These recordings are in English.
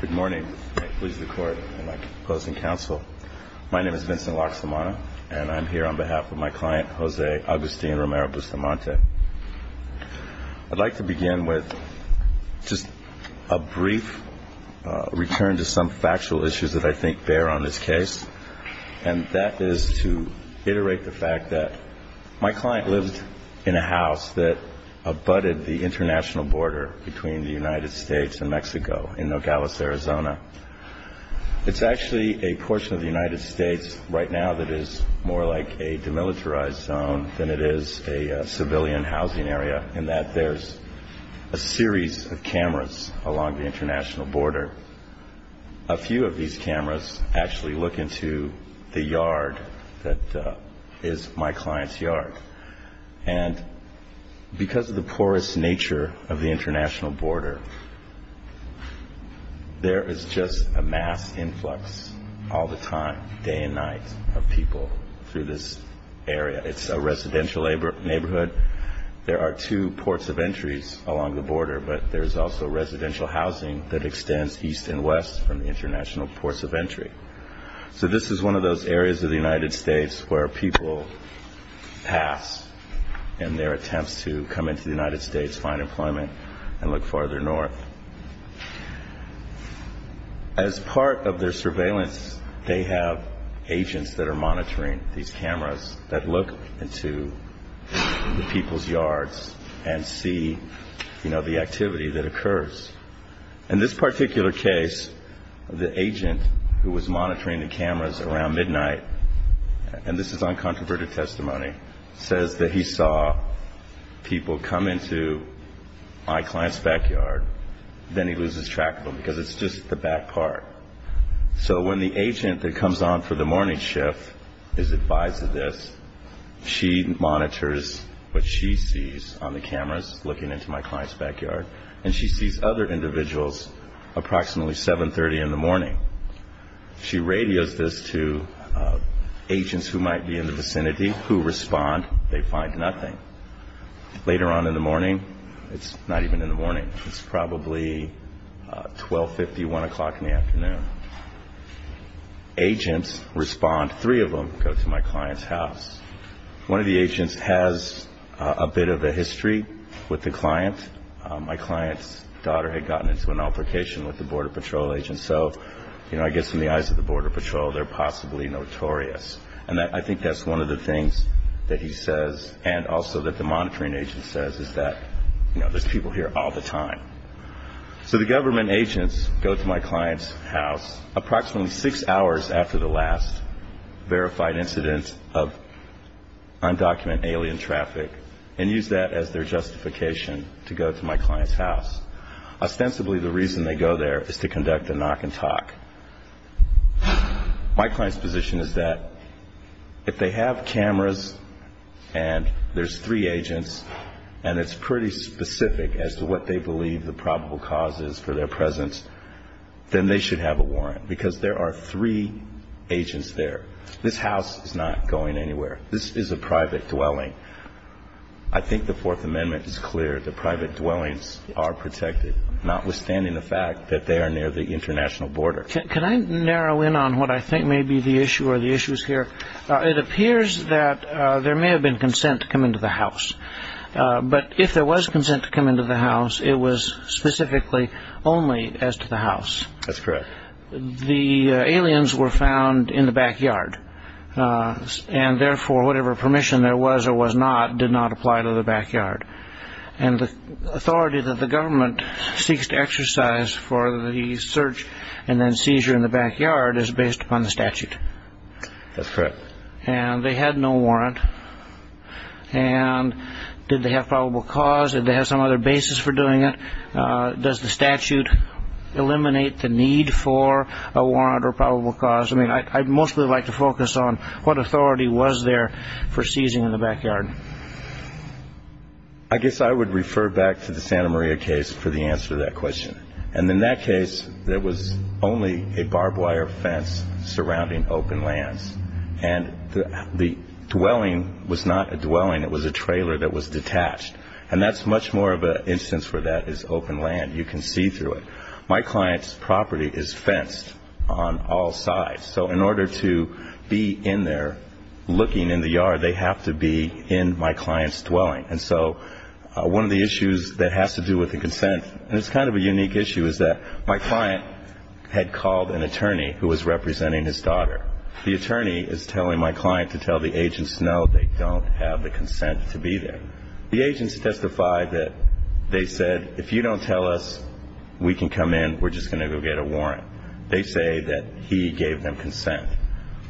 Good morning. My name is Vincent Loxamana, and I'm here on behalf of my client, Jose Agustin Romero-Bustamante. I'd like to begin with just a brief return to some factual issues that I think bear on this case, and that is to iterate the fact that my client lived in a house that abutted the international border between the United States and Mexico in Nogales, Arizona. It's actually a portion of the United States right now that is more like a demilitarized zone than it is a civilian housing area in that there's a series of cameras along the international border. A few of these cameras actually look into the yard that is my client's yard. And because of the porous nature of the international border, there is just a mass influx all the time, day and night, of people through this area. It's a residential neighborhood. There are two ports of entries along the border, but there's also residential housing that extends east and west from the international ports of entry. So this is one of those areas of the United States where people pass in their attempts to come into the United States, find employment, and look farther north. As part of their surveillance, they have agents that are monitoring these cameras that look into the people's yards and see the activity that occurs. In this particular case, the agent who was monitoring the cameras around midnight, and this is on controverted testimony, says that he saw people come into my client's backyard. Then he loses track of them because it's just the back part. So when the agent that comes on for the morning shift is advised of this, she monitors what she sees on the cameras looking into my client's backyard, and she sees other individuals approximately 7.30 in the morning. She radios this to agents who might be in the vicinity who respond. They find nothing. Later on in the morning, it's not even in the morning. It's probably 12.50, 1 o'clock in the afternoon. Agents respond. Three of them go to my client's house. One of the agents has a bit of a history with the client. My client's daughter had gotten into an altercation with the Border Patrol agent, so I guess in the eyes of the Border Patrol, they're possibly notorious. And I think that's one of the things that he says and also that the monitoring agent says is that there's people here all the time. So the government agents go to my client's house approximately six hours after the last verified incident of undocumented alien traffic and use that as their justification to go to my client's house. Ostensibly, the reason they go there is to conduct a knock and talk. My client's position is that if they have cameras and there's three agents and it's pretty specific as to what they believe the probable cause is for their presence, then they should have a warrant because there are three agents there. This house is not going anywhere. This is a private dwelling. I think the Fourth Amendment is clear that private dwellings are protected, notwithstanding the fact that they are near the international border. Can I narrow in on what I think may be the issue or the issues here? It appears that there may have been consent to come into the house, but if there was consent to come into the house, it was specifically only as to the house. That's correct. The aliens were found in the backyard, and therefore whatever permission there was or was not did not apply to the backyard. The authority that the government seeks to exercise for the search and then seizure in the backyard is based upon the statute. That's correct. They had no warrant. Did they have probable cause? Did they have some other basis for doing it? Does the statute eliminate the need for a warrant or probable cause? I'd mostly like to focus on what authority was there for seizing in the backyard. I guess I would refer back to the Santa Maria case for the answer to that question. In that case, there was only a barbed wire fence surrounding open lands, and the dwelling was not a dwelling. It was a trailer that was detached. And that's much more of an instance where that is open land. You can see through it. My client's property is fenced on all sides. So in order to be in there looking in the yard, they have to be in my client's dwelling. And so one of the issues that has to do with the consent, and it's kind of a unique issue, is that my client had called an attorney who was representing his daughter. The attorney is telling my client to tell the agents no, they don't have the consent to be there. And the agents testified that they said, if you don't tell us, we can come in, we're just going to go get a warrant. They say that he gave them consent.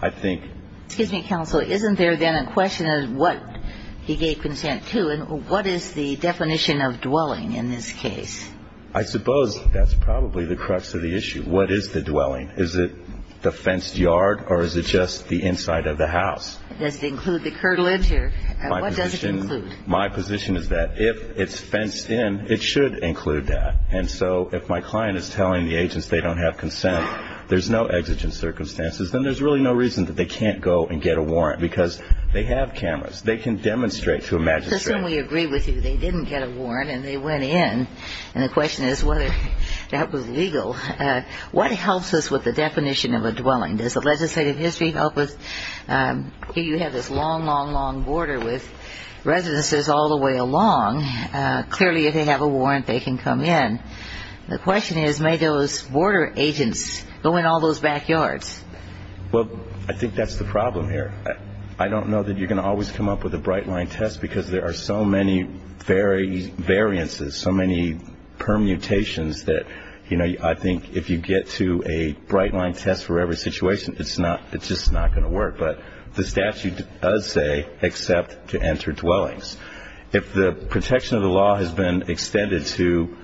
I think ---- Excuse me, counsel. Isn't there then a question of what he gave consent to, and what is the definition of dwelling in this case? I suppose that's probably the crux of the issue. What is the dwelling? Is it the fenced yard or is it just the inside of the house? Does it include the curtilage or what does it include? My position is that if it's fenced in, it should include that. And so if my client is telling the agents they don't have consent, there's no exigent circumstances, then there's really no reason that they can't go and get a warrant, because they have cameras. They can demonstrate to a magistrate. We agree with you. They didn't get a warrant and they went in. And the question is whether that was legal. What helps us with the definition of a dwelling? Does the legislative history help us? You have this long, long, long border with residences all the way along. Clearly, if they have a warrant, they can come in. The question is, may those border agents go in all those backyards? Well, I think that's the problem here. I don't know that you're going to always come up with a bright-line test because there are so many variances, so many permutations that, you know, I think if you get to a bright-line test for every situation, it's just not going to work. But the statute does say except to enter dwellings. If the protection of the law has been extended to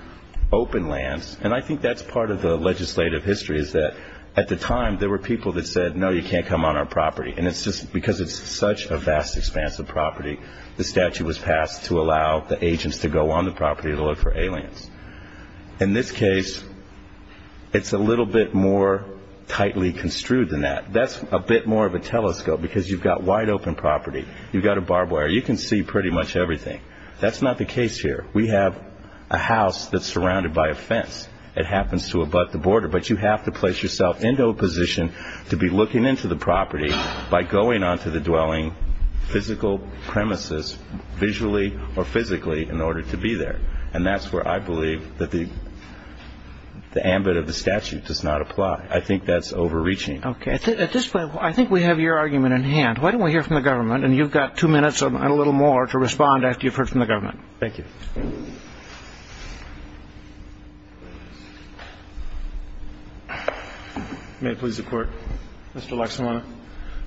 open lands, and I think that's part of the legislative history is that at the time there were people that said, no, you can't come on our property. And it's just because it's such a vast, expansive property, the statute was passed to allow the agents to go on the property to look for aliens. In this case, it's a little bit more tightly construed than that. That's a bit more of a telescope because you've got wide-open property. You've got a barbed wire. You can see pretty much everything. That's not the case here. We have a house that's surrounded by a fence. It happens to abut the border. But you have to place yourself into a position to be looking into the property by going onto the dwelling physical premises visually or physically in order to be there. And that's where I believe that the ambit of the statute does not apply. I think that's overreaching. Okay. At this point, I think we have your argument in hand. Why don't we hear from the government? And you've got two minutes and a little more to respond after you've heard from the government. Thank you. May it please the Court. Mr. Laksamana.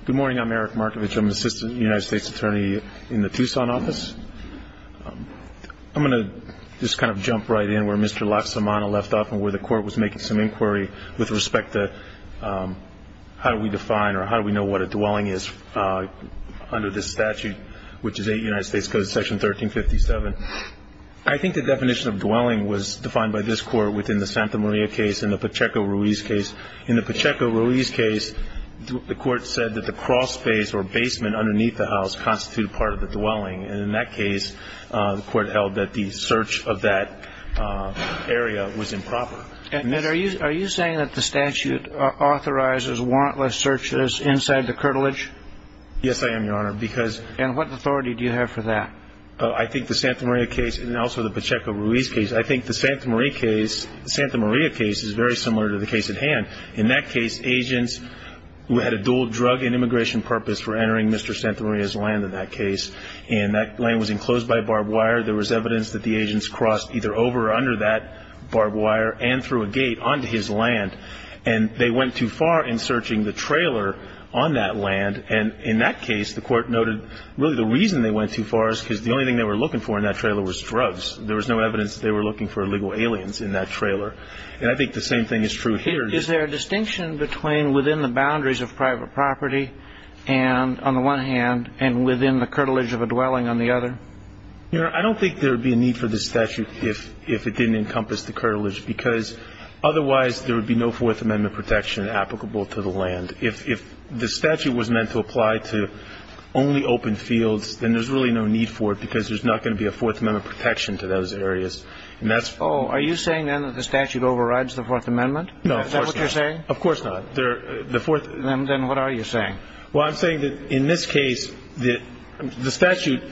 Good morning. I'm Eric Markovich. I'm Assistant United States Attorney in the Tucson office. I'm going to just kind of jump right in where Mr. Laksamana left off and where the Court was making some inquiry with respect to how do we define or how do we know what a dwelling is under this statute, which is United States Code Section 1357. I think the definition of dwelling was defined by this Court within the Santa Maria case and the Pacheco-Ruiz case. In the Pacheco-Ruiz case, the Court said that the crossface or basement underneath the house constituted part of the dwelling. And in that case, the Court held that the search of that area was improper. And are you saying that the statute authorizes warrantless searches inside the curtilage? Yes, I am, Your Honor, because And what authority do you have for that? I think the Santa Maria case and also the Pacheco-Ruiz case, I think the Santa Maria case is very similar to the case at hand. In that case, agents who had a dual drug and immigration purpose were entering Mr. Santa Maria's land in that case. And that land was enclosed by barbed wire. There was evidence that the agents crossed either over or under that barbed wire and through a gate onto his land. And they went too far in searching the trailer on that land. And in that case, the Court noted really the reason they went too far is because the only thing they were looking for in that trailer was drugs. There was no evidence they were looking for illegal aliens in that trailer. And I think the same thing is true here. Is there a distinction between within the boundaries of private property and, on the one hand, and within the curtilage of a dwelling on the other? Your Honor, I don't think there would be a need for this statute if it didn't encompass the curtilage, because otherwise there would be no Fourth Amendment protection applicable to the land. If the statute was meant to apply to only open fields, then there's really no need for it because there's not going to be a Fourth Amendment protection to those areas. And that's why Oh, are you saying then that the statute overrides the Fourth Amendment? No, of course not. Is that what you're saying? Of course not. Then what are you saying? Well, I'm saying that in this case, the statute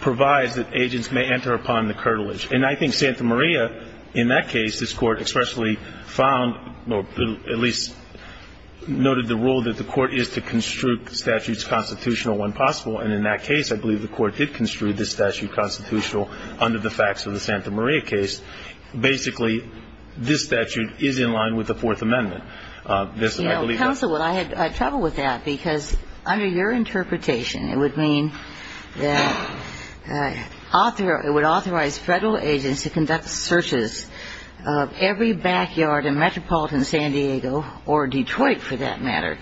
provides that agents may enter upon the curtilage. And I think Santa Maria, in that case, this Court expressly found or at least noted the rule that the Court is to construe statutes constitutional when possible. And in that case, I believe the Court did construe this statute constitutional under the facts of the Santa Maria case. Basically, this statute is in line with the Fourth Amendment. You know, counsel, I had trouble with that, because under your interpretation, it would mean that it would authorize Federal agents to conduct searches of every backyard in metropolitan San Diego, or Detroit for that matter,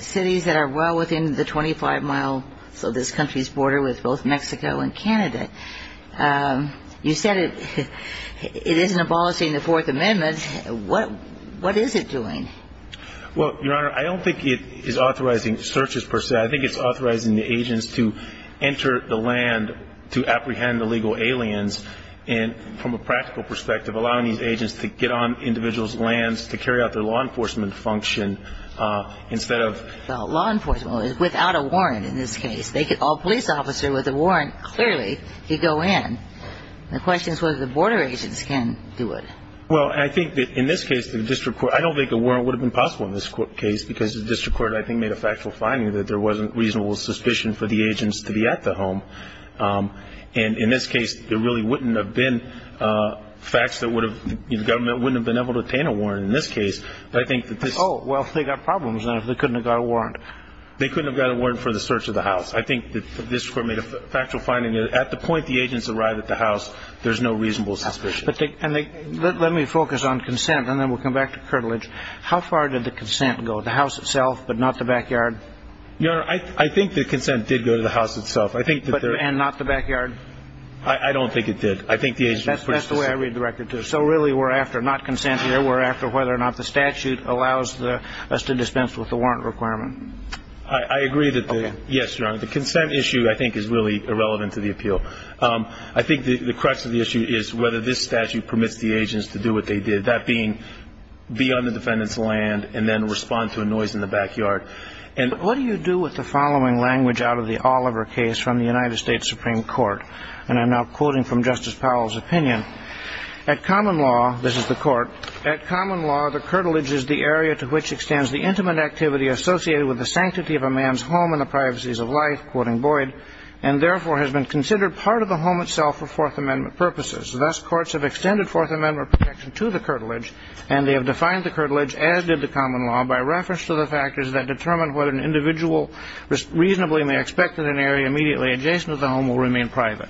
cities that are well within the 25-mile, so this country's border with both Mexico and Canada. You said it isn't abolishing the Fourth Amendment. What is it doing? Well, Your Honor, I don't think it is authorizing searches per se. I think it's authorizing the agents to enter the land to apprehend illegal aliens from a practical perspective, allowing these agents to get on individuals' lands to carry out their law enforcement function instead of ---- Well, law enforcement without a warrant in this case. They could call a police officer with a warrant, clearly, to go in. The question is whether the border agents can do it. Well, I think that in this case, the district court ---- I don't think a warrant would have been possible in this case, because the district court, I think, made a factual finding that there wasn't reasonable suspicion for the agents to be at the home. And in this case, there really wouldn't have been facts that would have ---- the government wouldn't have been able to obtain a warrant in this case. But I think that this ---- Oh, well, if they got problems, then they couldn't have got a warrant. They couldn't have got a warrant for the search of the house. I think the district court made a factual finding that at the point the agents arrive at the house, there's no reasonable suspicion. But they ---- and they ---- Let me focus on consent, and then we'll come back to curtilage. How far did the consent go? The house itself, but not the backyard? Your Honor, I think the consent did go to the house itself. I think that there ---- And not the backyard? I don't think it did. I think the agents ---- That's the way I read the record, too. So really, we're after not consent here. We're after whether or not the statute allows us to dispense with the warrant requirement. I agree that the ---- Okay. Yes, Your Honor. The consent issue, I think, is really irrelevant to the appeal. I think the crux of the issue is whether this statute permits the agents to do what they did, that being be on the defendant's land and then respond to a noise in the backyard. And what do you do with the following language out of the Oliver case from the United States Supreme Court? And I'm now quoting from Justice Powell's opinion. At common law, this is the court, at common law, the curtilage is the area to which extends the intimate activity associated with the sanctity of a man's home and the privacies of life, quoting Boyd, and therefore has been considered part of the home itself for Fourth Amendment purposes. Thus, courts have extended Fourth Amendment protection to the curtilage, and they have defined the curtilage, as did the common law, by reference to the factors that determine whether an individual reasonably may expect that an area immediately adjacent to the home will remain private.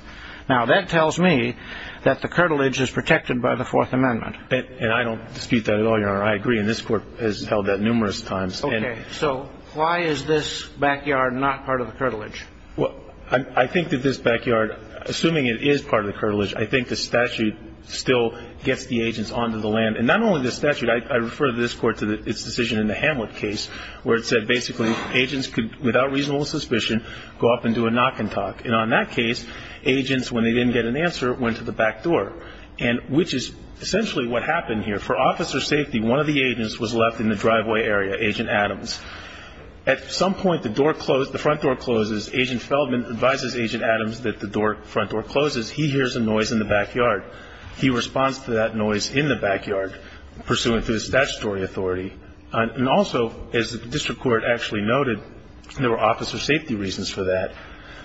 Now, that tells me that the curtilage is protected by the Fourth Amendment. And I don't dispute that at all, Your Honor. I agree, and this court has held that numerous times. Okay. So why is this backyard not part of the curtilage? Well, I think that this backyard, assuming it is part of the curtilage, I think the statute still gets the agents onto the land. And not only the statute. I refer this court to its decision in the Hamlet case where it said, basically, agents could, without reasonable suspicion, go up and do a knock and talk. And on that case, agents, when they didn't get an answer, went to the back door, which is essentially what happened here. For officer safety, one of the agents was left in the driveway area, Agent Adams. At some point, the front door closes. Agent Feldman advises Agent Adams that the front door closes. He hears a noise in the backyard. He responds to that noise in the backyard, pursuant to the statutory authority. And also, as the district court actually noted, there were officer safety reasons for that.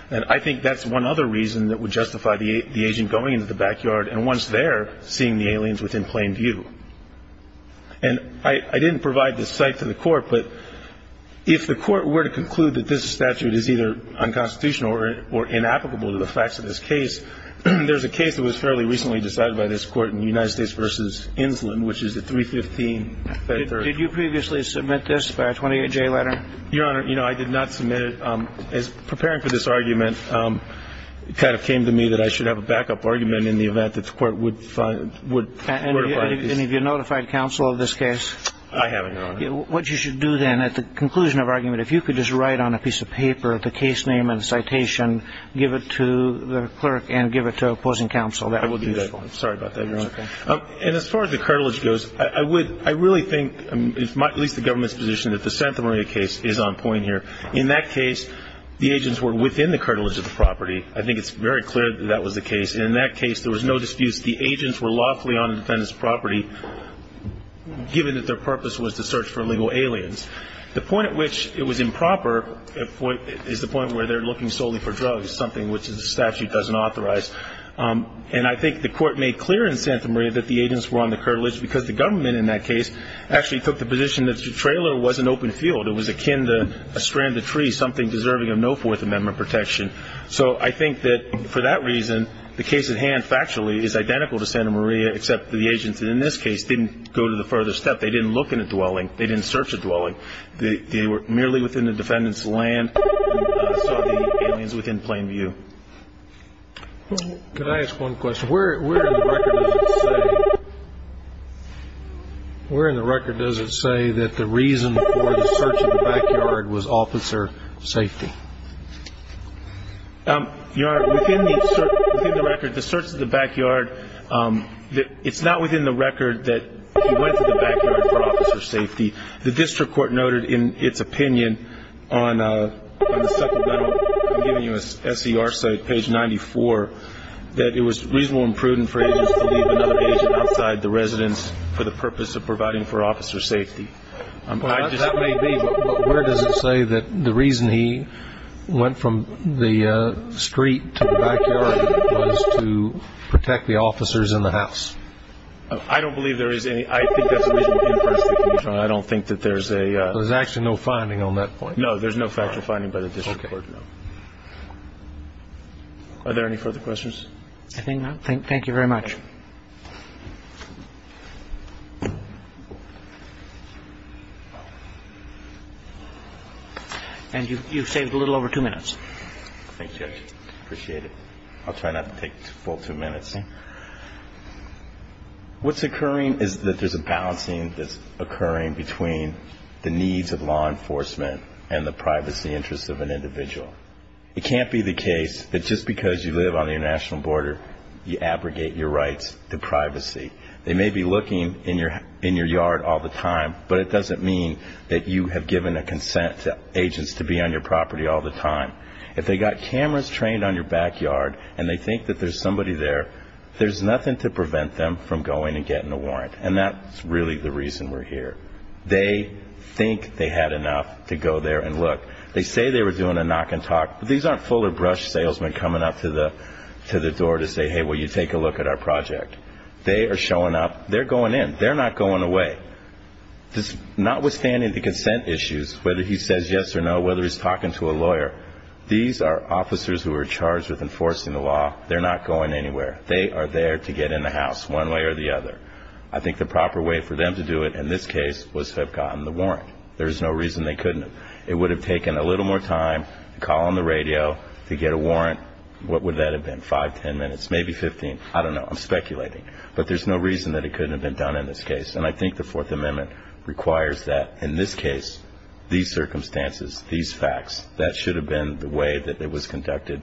And I think that's one other reason that would justify the agent going into the backyard and once there, seeing the aliens within plain view. And I didn't provide this site to the court, but if the court were to conclude that this statute is either unconstitutional or inapplicable to the facts of this case, there's a case that was fairly recently decided by this court in the United States v. Insland, which is the 315. Did you previously submit this by a 28-J letter? Your Honor, I did not submit it. As preparing for this argument, it kind of came to me that I should have a backup argument in the event that the court would find this. Any of you notified counsel of this case? I haven't, Your Honor. What you should do then at the conclusion of argument, if you could just write on a piece of paper the case name and citation, give it to the clerk and give it to opposing counsel. That would be useful. I will do that. Sorry about that, Your Honor. That's okay. And as far as the cartilage goes, I really think, at least the government's position, that the Santa Maria case is on point here. In that case, the agents were within the cartilage of the property. I think it's very clear that that was the case. And in that case, there was no disputes. The agents were lawfully on the defendant's property, given that their purpose was to search for illegal aliens. The point at which it was improper is the point where they're looking solely for drugs, something which the statute doesn't authorize. And I think the court made clear in Santa Maria that the agents were on the cartilage because the government in that case actually took the position that the trailer was an open field. It was akin to a stranded tree, something deserving of no Fourth Amendment protection. So I think that for that reason, the case at hand factually is identical to Santa Maria, except the agents in this case didn't go to the further step. They didn't look in a dwelling. They didn't search a dwelling. They were merely within the defendant's land, saw the aliens within plain view. Could I ask one question? Where in the record does it say that the reason for the search of the backyard was officer safety? Within the record, the search of the backyard, it's not within the record that he went to the backyard for officer safety. The district court noted in its opinion on the supplemental, I'm giving you a SER site, page 94, that it was reasonable and prudent for agents to leave another agent outside the residence for the purpose of providing for officer safety. That may be, but where does it say that the reason he went from the street to the backyard was to protect the officers in the house? I don't believe there is any. I think that's a reasonable impression that can be drawn. I don't think that there's a – So there's actually no finding on that point? No, there's no factual finding by the district court, no. Are there any further questions? I think not. Thank you very much. And you've saved a little over two minutes. Thank you, Judge. Appreciate it. I'll try not to take full two minutes. Okay. What's occurring is that there's a balancing that's occurring between the needs of law enforcement and the privacy interests of an individual. It can't be the case that just because you live on the international border, you abrogate your rights to privacy. They may be looking in your yard all the time, but it doesn't mean that you have given a consent to agents to be on your property all the time. If they've got cameras trained on your backyard and they think that there's somebody there, there's nothing to prevent them from going and getting a warrant, and that's really the reason we're here. They think they had enough to go there and look. They say they were doing a knock and talk, but these aren't full of brush salesmen coming up to the door to say, hey, will you take a look at our project? They are showing up. They're going in. They're not going away. whether he's talking to a lawyer, these are officers who are charged with enforcing the law. They're not going anywhere. They are there to get in the house one way or the other. I think the proper way for them to do it in this case was to have gotten the warrant. There's no reason they couldn't have. It would have taken a little more time to call on the radio to get a warrant. What would that have been, five, ten minutes, maybe 15? I don't know. I'm speculating. But there's no reason that it couldn't have been done in this case, and I think the Fourth Amendment requires that in this case, these circumstances, these facts, that should have been the way that it was conducted.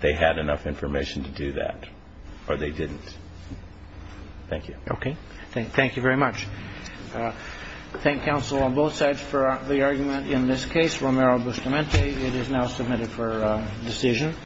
They had enough information to do that, or they didn't. Thank you. Okay. Thank you very much. Thank counsel on both sides for the argument in this case. Romero-Bustamante, it is now submitted for decision.